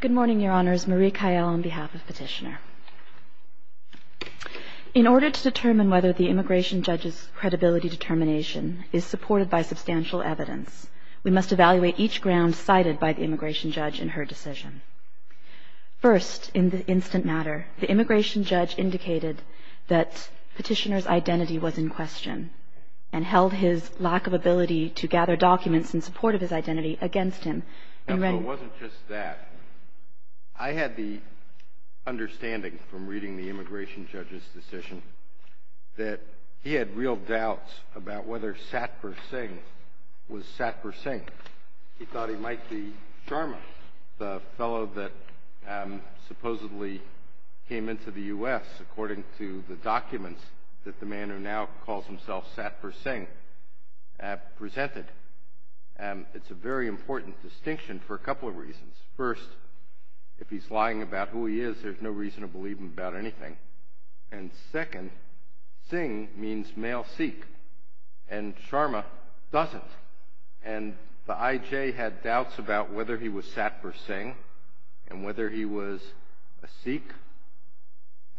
Good morning, Your Honors. Marie Kael on behalf of Petitioner. In order to determine whether the immigration judge's credibility determination is supported by substantial evidence, we must evaluate each ground cited by the immigration judge in her decision. First, in the instant matter, the immigration judge indicated that Petitioner's identity was in question and held his lack of ability to gather documents in support of his identity against him. Although it wasn't just that, I had the understanding from reading the immigration judge's decision that he had real doubts about whether Satpur Singh was Satpur Singh. He thought he might be Sharma, the fellow that supposedly came into the U.S. according to the documents that the man who now calls himself Satpur Singh presented. And it's a very important distinction for a couple of reasons. First, if he's lying about who he is, there's no reason to believe him about anything. And second, Singh means male Sikh, and Sharma doesn't. And the IJ had doubts about whether he was Satpur Singh and whether he was a Sikh,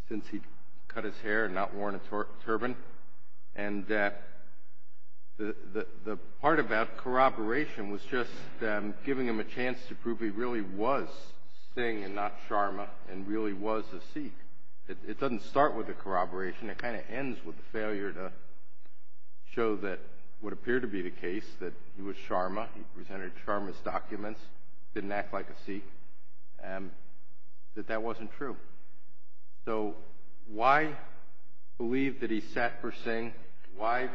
since he cut his hair and not worn a turban. And the part about corroboration was just giving him a chance to prove he really was Singh and not Sharma and really was a Sikh. It doesn't start with the corroboration. It kind of ends with the failure to show that what appeared to be the case, that he was Sharma, he presented Sharma's documents, didn't act like a Sikh, that that wasn't true. So why believe that he's Satpur Singh? Why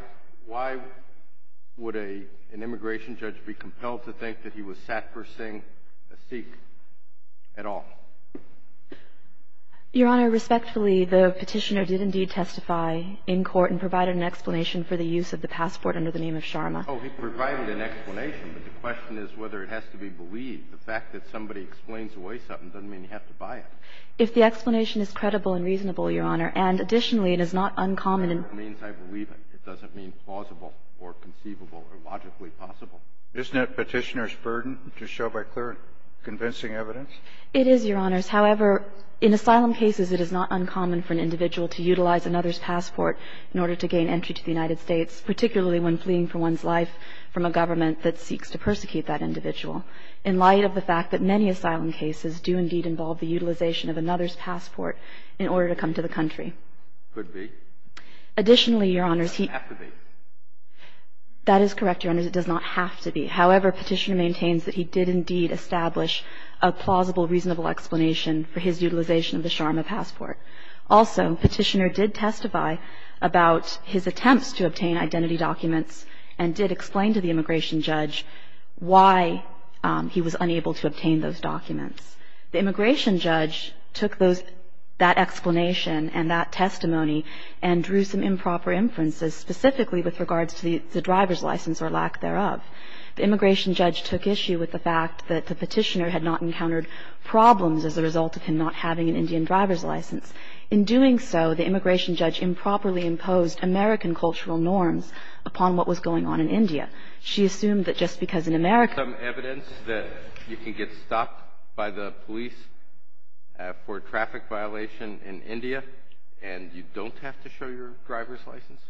would an immigration judge be compelled to think that he was Satpur Singh, a Sikh, at all? Your Honor, respectfully, the petitioner did indeed testify in court and provided an explanation for the use of the passport under the name of Sharma. Oh, he provided an explanation, but the question is whether it has to be believed. The fact that somebody explains away something doesn't mean you have to buy it. If the explanation is credible and reasonable, Your Honor, and additionally, it is not uncommon. It means I believe it. It doesn't mean plausible or conceivable or logically possible. Isn't that petitioner's burden to show by clear and convincing evidence? It is, Your Honors. However, in asylum cases, it is not uncommon for an individual to utilize another's passport in order to gain entry to the United States, particularly when fleeing for one's life from a government that seeks to persecute that individual. In light of the fact that many asylum cases do indeed involve the utilization of another's passport in order to come to the country. Could be. Additionally, Your Honors, he -. It doesn't have to be. That is correct, Your Honors. It does not have to be. However, Petitioner maintains that he did indeed establish a plausible, reasonable explanation for his utilization of the Sharma passport. Also, Petitioner did testify about his attempts to obtain identity documents and did explain to the immigration judge why he was unable to obtain those documents. The immigration judge took that explanation and that testimony and drew some improper inferences specifically with regards to the driver's license or lack thereof. The immigration judge took issue with the fact that the petitioner had not encountered problems as a result of him not having an Indian driver's license. In doing so, the immigration judge improperly imposed American cultural norms upon what was going on in India. She assumed that just because an American- Is there some evidence that you can get stopped by the police for a traffic violation in India and you don't have to show your driver's license?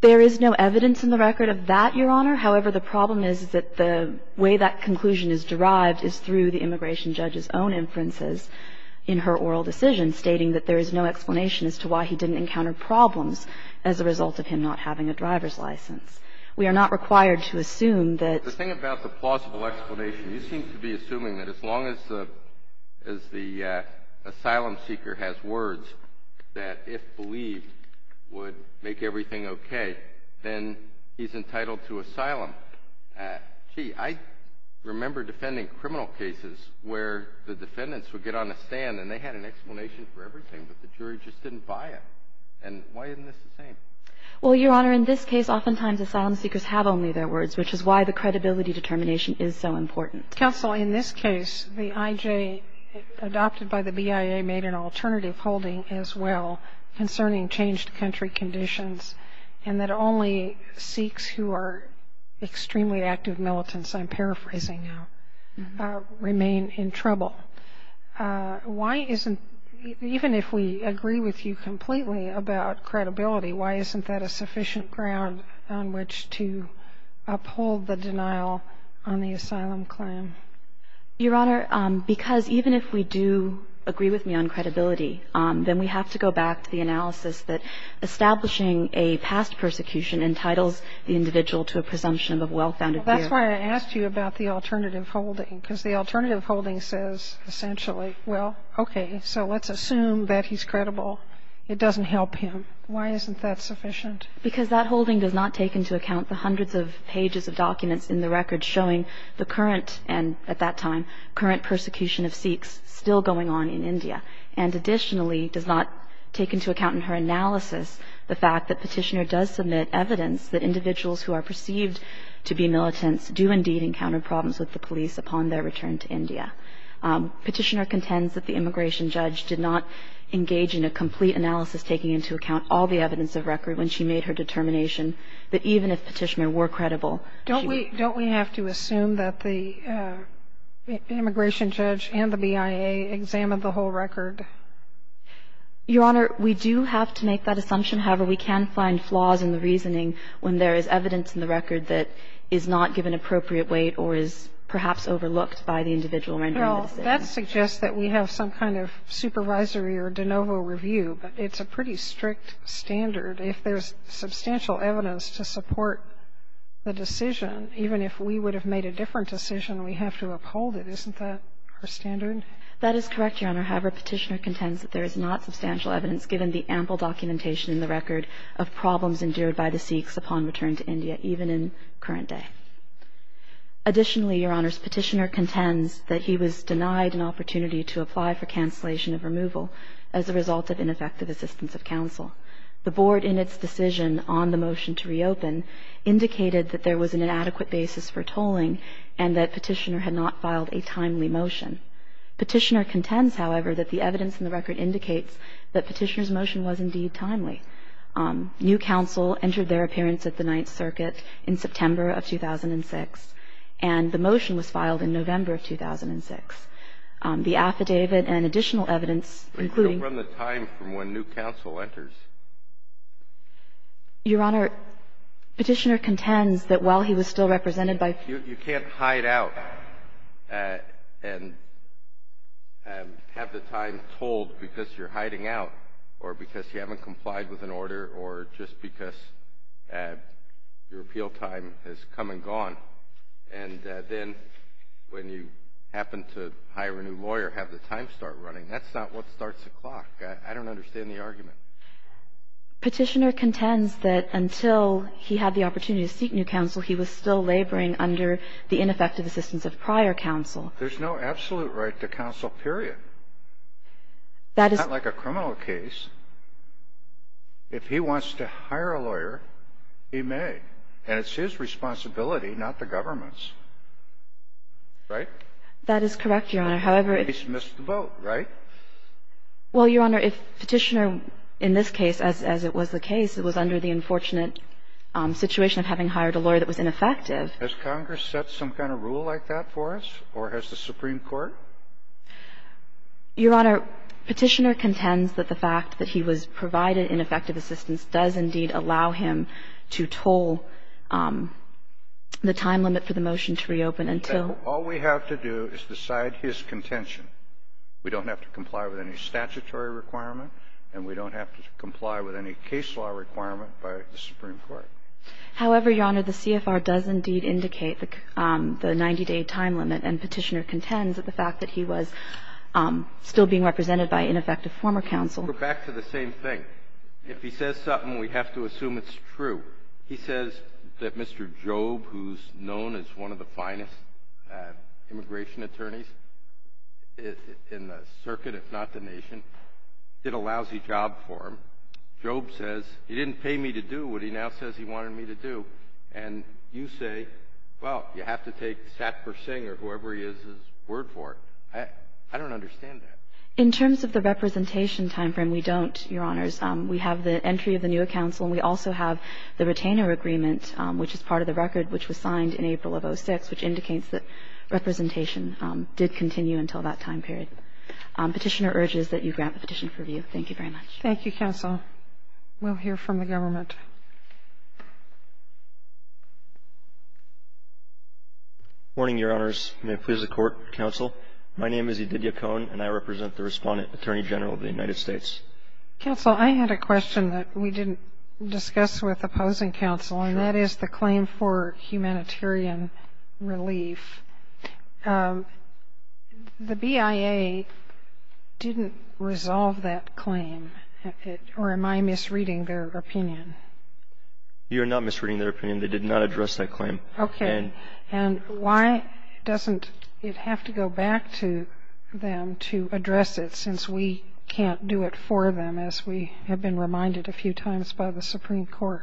There is no evidence in the record of that, Your Honor. However, the problem is that the way that conclusion is derived is through the immigration judge's own inferences in her oral decision stating that there is no explanation as to why he didn't encounter problems as a result of him not having a driver's license. We are not required to assume that- The thing about the plausible explanation, you seem to be assuming that as long as the asylum seeker has words that if believed would make everything okay, then he's entitled to asylum. Gee, I remember defending criminal cases where the defendants would get on a stand and they had an explanation for everything, but the jury just didn't buy it. And why isn't this the same? Well, Your Honor, in this case, oftentimes asylum seekers have only their words, which is why the credibility determination is so important. Counsel, in this case, the IJ adopted by the BIA made an alternative holding as well concerning changed country conditions, and that only Sikhs who are extremely active in the asylum system are entitled to asylum. So even if we agree with you completely about credibility, why isn't that a sufficient ground on which to uphold the denial on the asylum claim? Your Honor, because even if we do agree with me on credibility, then we have to go back to the analysis that establishing a past persecution entitles the individual to a presumption of well-founded guilt. That's why I asked you about the alternative holding, because the alternative holding says essentially, well, okay, so let's assume that he's credible. It doesn't help him. Why isn't that sufficient? Because that holding does not take into account the hundreds of pages of documents in the record showing the current, and at that time, current persecution of Sikhs still going on in India, and additionally does not take into account in her analysis the fact that Petitioner does submit evidence that individuals who are perceived to be militants do indeed encounter problems with the police upon their return to India. Petitioner contends that the immigration judge did not engage in a complete analysis taking into account all the evidence of record when she made her determination that even if Petitioner were credible, she would be. Don't we have to assume that the immigration judge and the BIA examined the whole record? Your Honor, we do have to make that assumption. However, we can find flaws in the reasoning when there is evidence in the record that is not given appropriate weight or is perhaps overlooked by the individual rendering the decision. Well, that suggests that we have some kind of supervisory or de novo review. It's a pretty strict standard. If there's substantial evidence to support the decision, even if we would have made a different decision, we have to uphold it. Isn't that her standard? That is correct, Your Honor. However, Petitioner contends that there is not substantial evidence given the ample documentation in the record of problems endured by the Sikhs upon return to India, even in current day. Additionally, Your Honor, Petitioner contends that he was denied an opportunity to apply for cancellation of removal as a result of ineffective assistance of counsel. The Board in its decision on the motion to reopen indicated that there was an inadequate basis for tolling and that Petitioner had not filed a timely motion. Petitioner contends, however, that the evidence in the record indicates that Petitioner's application was indeed timely. New counsel entered their appearance at the Ninth Circuit in September of 2006, and the motion was filed in November of 2006. The affidavit and additional evidence, including the time from when new counsel enters. Your Honor, Petitioner contends that while he was still represented by you can't hide out and have the time tolled because you're hiding out or because you haven't complied with an order or just because your appeal time has come and gone. And then when you happen to hire a new lawyer, have the time start running. That's not what starts the clock. I don't understand the argument. Petitioner contends that until he had the opportunity to seek new counsel, he was still laboring under the ineffective assistance of prior counsel. There's no absolute right to counsel, period. It's not like a criminal case. If he wants to hire a lawyer, he may. And it's his responsibility, not the government's. Right? That is correct, Your Honor. However, if he's missed the boat, right? Well, Your Honor, if Petitioner in this case, as it was the case, it was under the unfortunate situation of having hired a lawyer that was ineffective. Has Congress set some kind of rule like that for us, or has the Supreme Court? Your Honor, Petitioner contends that the fact that he was provided ineffective assistance does indeed allow him to toll the time limit for the motion to reopen until we have to do is decide his contention. We don't have to comply with any statutory requirement, and we don't have to comply with any case law requirement by the Supreme Court. However, Your Honor, the CFR does indeed indicate the 90-day time limit, and Petitioner contends that the fact that he was still being represented by ineffective former counsel. But back to the same thing. If he says something, we have to assume it's true. He says that Mr. Job, who's known as one of the finest immigration attorneys in the circuit, if not the nation, did a lousy job for him. Job says, he didn't pay me to do what he now says he wanted me to do. And you say, well, you have to take Satpur Singh or whoever he is's word for it. I don't understand that. In terms of the representation timeframe, we don't, Your Honors. We have the entry of the new counsel, and we also have the retainer agreement, which is part of the record, which was signed in April of 2006, which indicates that representation did continue until that time period. Petitioner urges that you grant the petition for review. Thank you very much. Thank you, counsel. We'll hear from the government. Good morning, Your Honors. May it please the Court, counsel. My name is Edidia Cohen, and I represent the Respondent Attorney General of the United States. Counsel, I had a question that we didn't discuss with opposing counsel, and that is the claim for humanitarian relief. The BIA didn't resolve that claim, or am I misreading their opinion? You are not misreading their opinion. They did not address that claim. Okay. And why doesn't it have to go back to them to address it, since we can't do it for them, as we have been reminded a few times by the Supreme Court?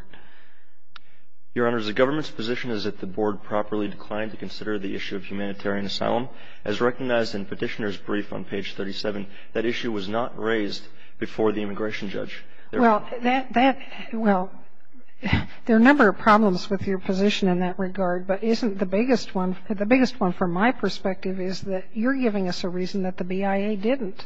Your Honors, the government's position is that the Board properly declined to consider the issue of humanitarian asylum. As recognized in Petitioner's brief on page 37, that issue was not raised before the immigration judge. Well, there are a number of problems with your position in that regard, but the biggest one from my perspective is that you're giving us a reason that the BIA didn't.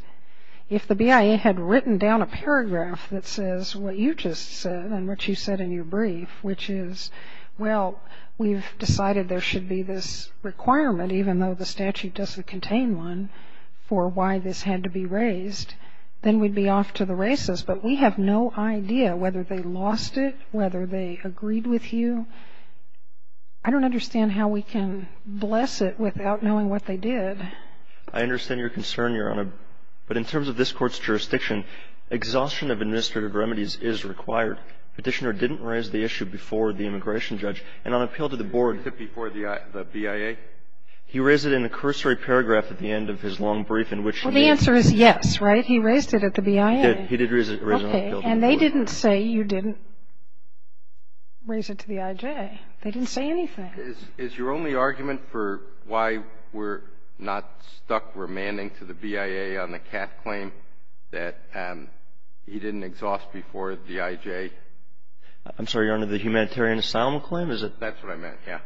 If the BIA had written down a paragraph that says what you just said and what you said in your brief, which is, well, we've decided there should be this requirement, even though the statute doesn't contain one, for why this had to be raised, then we'd be off to the races. But we have no idea whether they lost it, whether they agreed with you. I don't understand how we can bless it without knowing what they did. I understand your concern, Your Honor. But in terms of this Court's jurisdiction, exhaustion of administrative remedies is required. Petitioner didn't raise the issue before the immigration judge. And on appeal to the Board before the BIA, he raised it in a cursory paragraph at the end of his long brief in which he did. Well, the answer is yes, right? He raised it at the BIA. He did. He did raise it on appeal to the Board. Okay. And they didn't say you didn't raise it to the IJ. They didn't say anything. Is your only argument for why we're not stuck remanding to the BIA on the CAT claim that he didn't exhaust before the IJ? I'm sorry, Your Honor, the humanitarian asylum claim? That's what I meant, yeah.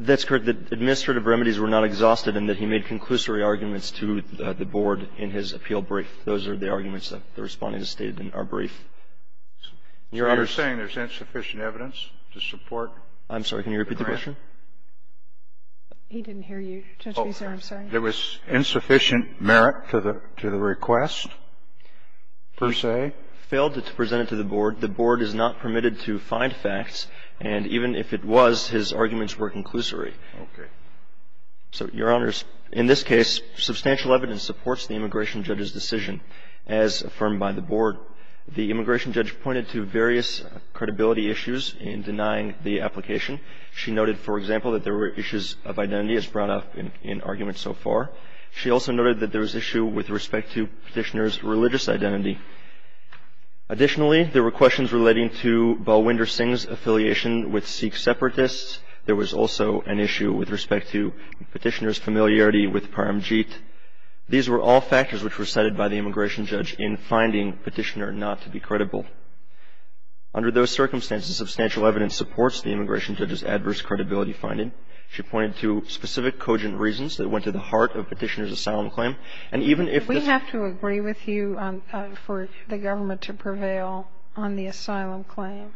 That's correct. The administrative remedies were not exhausted and that he made conclusory arguments to the Board in his appeal brief. Those are the arguments that the Respondent has stated in our brief. Your Honor's saying there's insufficient evidence to support the grant? I'm sorry. Can you repeat the question? He didn't hear you, Judge Beeser. I'm sorry. There was insufficient merit to the request, per se. Failed to present it to the Board. The Board is not permitted to find facts. And even if it was, his arguments were conclusory. Okay. So, Your Honors, in this case, substantial evidence supports the immigration judge's decision as affirmed by the Board. The immigration judge pointed to various credibility issues in denying the application. She noted, for example, that there were issues of identity, as brought up in arguments so far. She also noted that there was issue with respect to Petitioner's religious identity. Additionally, there were questions relating to Balwinder Singh's affiliation with Sikh separatists. There was also an issue with respect to Petitioner's familiarity with Paramjit. These were all factors which were cited by the immigration judge in finding Petitioner not to be credible. Under those circumstances, substantial evidence supports the immigration judge's adverse credibility finding. She pointed to specific cogent reasons that went to the heart of Petitioner's asylum claim. And even if the ---- Do we have to agree with you for the government to prevail on the asylum claim?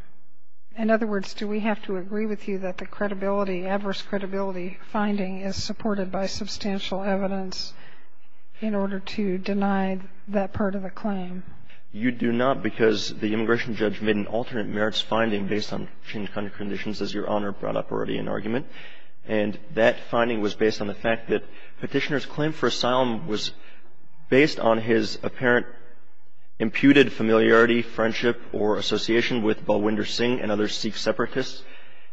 In other words, do we have to agree with you that the credibility, adverse credibility finding is supported by substantial evidence in order to deny that part of the claim? You do not, because the immigration judge made an alternate merits finding based on changing conditions, as Your Honor brought up already in argument. And that finding was based on the fact that Petitioner's claim for asylum was based on his apparent imputed familiarity, friendship, or association with Balwinder Singh and other Sikh separatists.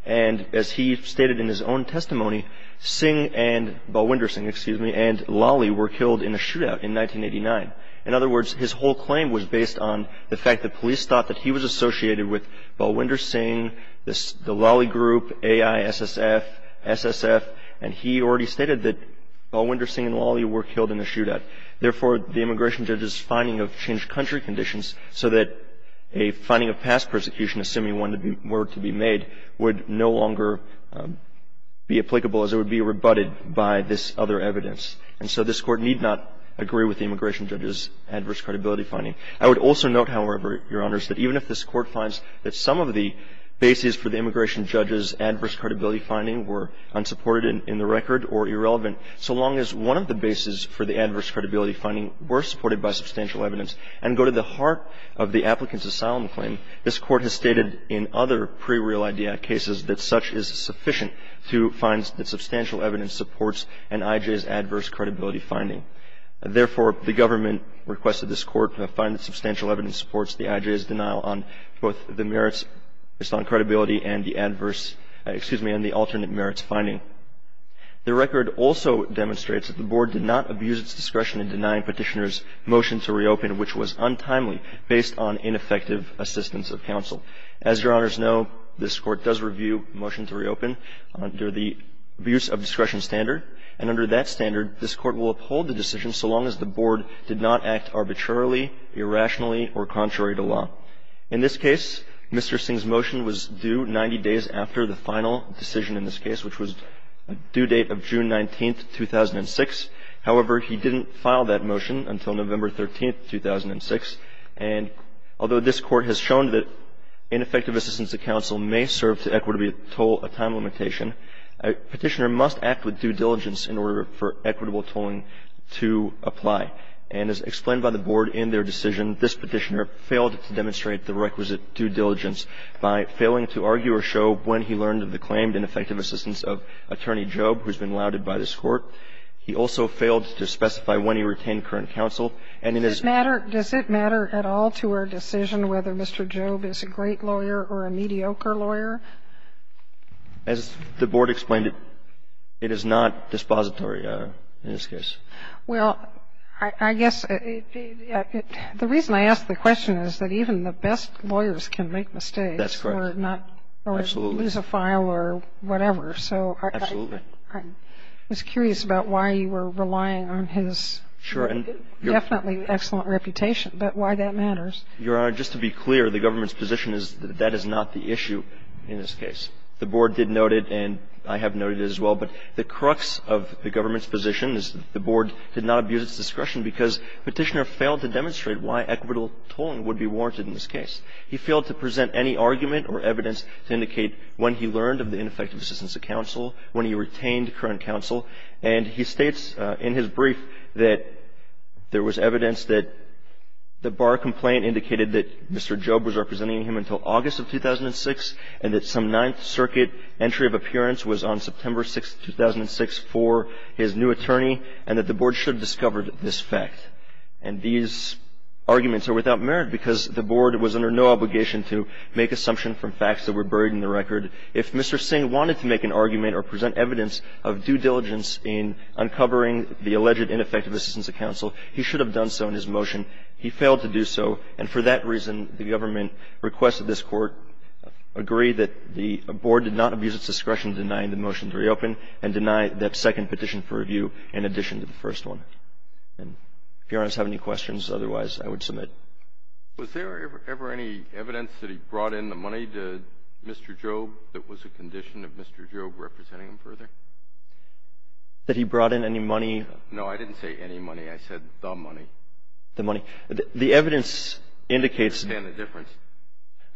And as he stated in his own testimony, Singh and Balwinder Singh, excuse me, and Lali were killed in a shootout in 1989. In other words, his whole claim was based on the fact that police thought that he was associated with Balwinder Singh, the Lali group, AI, SSF, SSF, and he already stated that Balwinder Singh and Lali were killed in a shootout. Therefore, the immigration judge's finding of changed country conditions so that a finding of past persecution, assuming one were to be made, would no longer be applicable as it would be rebutted by this other evidence. And so this Court need not agree with the immigration judge's adverse credibility finding. I would also note, however, Your Honors, that even if this Court finds that some of the bases for the immigration judge's adverse credibility finding were unsupported in the record or irrelevant, so long as one of the bases for the adverse credibility finding were supported by substantial evidence and go to the heart of the applicant's asylum claim, this Court has stated in other pre-Real Idea cases that such is sufficient to find that substantial evidence supports an I.J.'s adverse credibility finding. Therefore, the government requested this Court to find that substantial evidence supports the I.J.'s denial on both the merits based on credibility and the adverse credibility finding. The record also demonstrates that the Board did not abuse its discretion in denying Petitioner's motion to reopen, which was untimely, based on ineffective assistance of counsel. As Your Honors know, this Court does review motion to reopen under the abuse of discretion standard, and under that standard, this Court will uphold the decision so long as the Board did not act arbitrarily, irrationally, or contrary to law. In this case, Mr. Singh's motion was due 90 days after the final decision in this case, which was due date of June 19, 2006. However, he didn't file that motion until November 13, 2006, and although this Court has shown that ineffective assistance of counsel may serve to equitably toll a time limitation, Petitioner must act with due diligence in order for equitable tolling to apply. And as explained by the Board in their decision, this Petitioner failed to demonstrate the requisite due diligence by failing to argue or show when he learned of the claimed ineffective assistance of Attorney Jobe, who has been lauded by this Court. He also failed to specify when he retained current counsel. And in his ---- Sotomayor, does it matter at all to our decision whether Mr. Jobe is a great lawyer or a mediocre lawyer? As the Board explained, it is not dispository in this case. Well, I guess the reason I ask the question is that even the best lawyers can make mistakes. That's correct. Absolutely. Or lose a file or whatever. Absolutely. I was curious about why you were relying on his definitely excellent reputation, but why that matters. Your Honor, just to be clear, the government's position is that that is not the issue in this case. The Board did note it, and I have noted it as well, but the crux of the government's position is the Board did not abuse its discretion because Petitioner failed to demonstrate why equitable tolling would be warranted in this case. He failed to present any argument or evidence to indicate when he learned of the ineffective assistance of counsel, when he retained current counsel. And he states in his brief that there was evidence that the Barr complaint indicated that Mr. Jobe was representing him until August of 2006 and that some Ninth Circuit entry of appearance was on September 6, 2006 for his new attorney and that the Board should have discovered this fact. And these arguments are without merit because the Board was under no obligation to make assumption from facts that were buried in the record. If Mr. Singh wanted to make an argument or present evidence of due diligence in uncovering the alleged ineffective assistance of counsel, he should have done so in his motion. He failed to do so, and for that reason, the government requested this Court agree that the Board did not abuse its discretion denying the motion to reopen and deny that second petition for review in addition to the first one. And if Your Honor has any questions, otherwise I would submit. Was there ever any evidence that he brought in the money to Mr. Jobe that was a condition of Mr. Jobe representing him further? That he brought in any money? No, I didn't say any money. I said the money. The money. The evidence indicates the difference.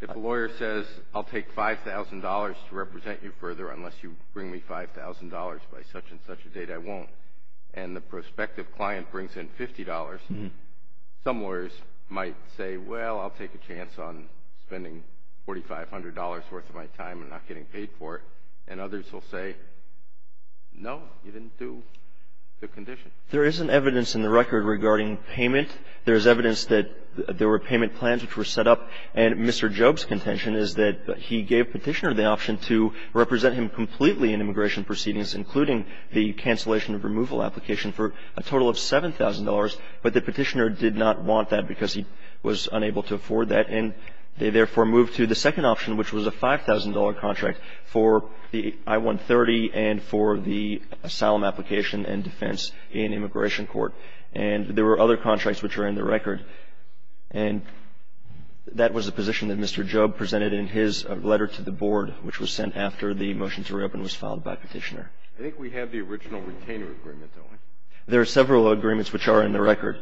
If a lawyer says, I'll take $5,000 to represent you further unless you bring me $5,000 by such-and-such a date, I won't, and the prospective client brings in $50, some lawyers might say, well, I'll take a chance on spending $4,500 worth of my time and not getting paid for it. And others will say, no, you didn't do the condition. There isn't evidence in the record regarding payment. There is evidence that there were payment plans which were set up, and Mr. Jobe's contention is that he gave Petitioner the option to represent him completely in immigration proceedings, including the cancellation of removal application for a total of $7,000, but the Petitioner did not want that because he was unable to afford that. And they therefore moved to the second option, which was a $5,000 contract for the I-130 and for the asylum application and defense in immigration court. And there were other contracts which are in the record, and that was a position that Mr. Jobe presented in his letter to the board, which was sent after the motion to reopen was filed by Petitioner. I think we have the original retainer agreement, don't we? There are several agreements which are in the record.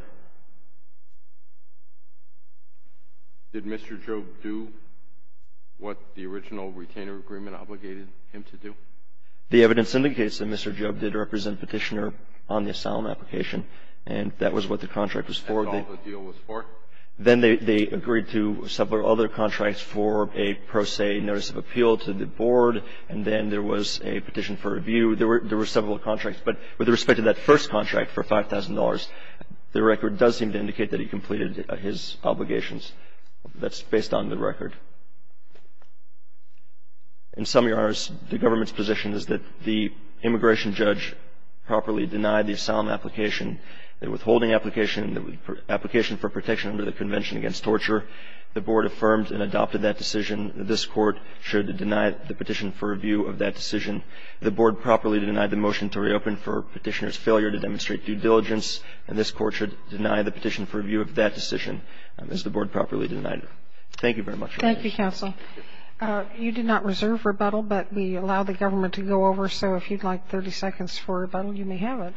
Did Mr. Jobe do what the original retainer agreement obligated him to do? The evidence indicates that Mr. Jobe did represent Petitioner on the asylum application, and that was what the contract was for. And that's all the deal was for? Then they agreed to several other contracts for a pro se notice of appeal to the board, and then there was a petition for review. There were several contracts. But with respect to that first contract for $5,000, the record does seem to indicate that he completed his obligations. That's based on the record. In summary, Your Honors, the government's position is that the immigration judge properly denied the asylum application, the withholding application, the application for protection under the Convention Against Torture. The board affirmed and adopted that decision. This Court should deny the petition for review of that decision. The board properly denied the motion to reopen for Petitioner's failure to demonstrate due diligence, and this Court should deny the petition for review of that decision as the board properly denied it. Thank you very much. Thank you, Counsel. You did not reserve rebuttal, but we allow the government to go over, so if you'd like 30 seconds for rebuttal, you may have it.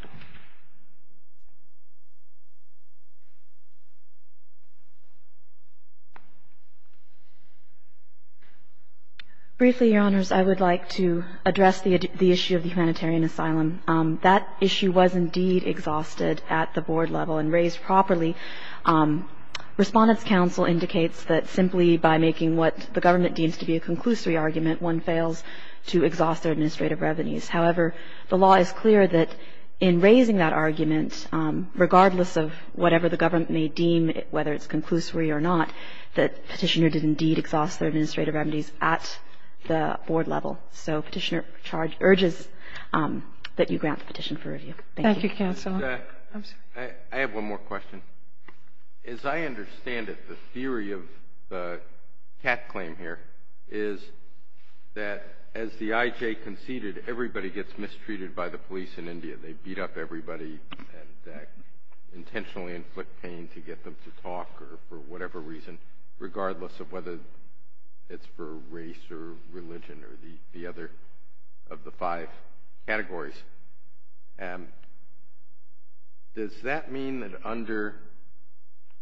Briefly, Your Honors, I would like to address the issue of the humanitarian asylum. That issue was indeed exhausted at the board level and raised properly. Respondents' counsel indicates that simply by making what the government deems to be a conclusory argument, one fails to exhaust their administrative revenues. However, the law is clear that in raising that argument, regardless of whatever the government may deem, whether it's conclusory or not, that Petitioner did indeed exhaust their administrative remedies at the board level. So Petitioner charges or urges that you grant the petition for review. Thank you. Thank you, Counsel. I have one more question. As I understand it, the theory of the cat claim here is that as the IJ conceded, everybody gets mistreated by the police in India. They beat up everybody and intentionally inflict pain to get them to talk or for whatever reason, regardless of whether it's for race or religion or the other of the five categories. Does that mean that under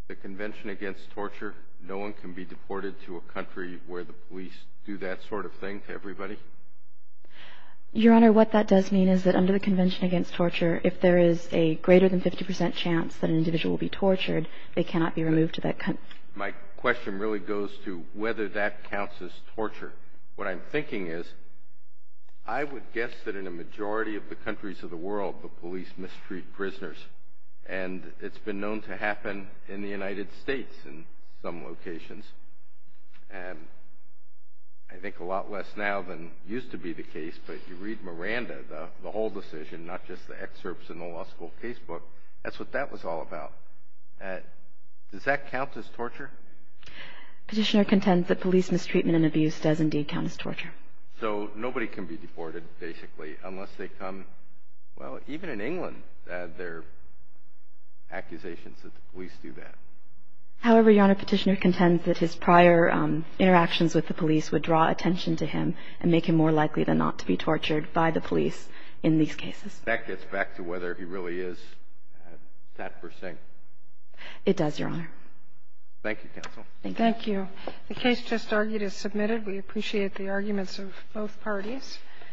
the Convention Against Torture, no one can be deported to a country where the police do that sort of thing to everybody? Your Honor, what that does mean is that under the Convention Against Torture, if there is a greater than 50 percent chance that an individual will be tortured, they cannot be removed to that country. My question really goes to whether that counts as torture. What I'm thinking is I would guess that in a majority of the countries of the world, the police mistreat prisoners. And it's been known to happen in the United States in some locations. And I think a lot less now than used to be the case, but you read Miranda, the whole decision, not just the excerpts in the law school casebook. That's what that was all about. Does that count as torture? Petitioner contends that police mistreatment and abuse does indeed count as torture. So nobody can be deported, basically, unless they come, well, even in England there are accusations that the police do that. However, Your Honor, Petitioner contends that his prior interactions with the police would draw attention to him and make him more likely than not to be tortured by the police in these cases. That gets back to whether he really is that per se. It does, Your Honor. Thank you, counsel. Thank you. The case just argued is submitted. We appreciate the arguments of both parties.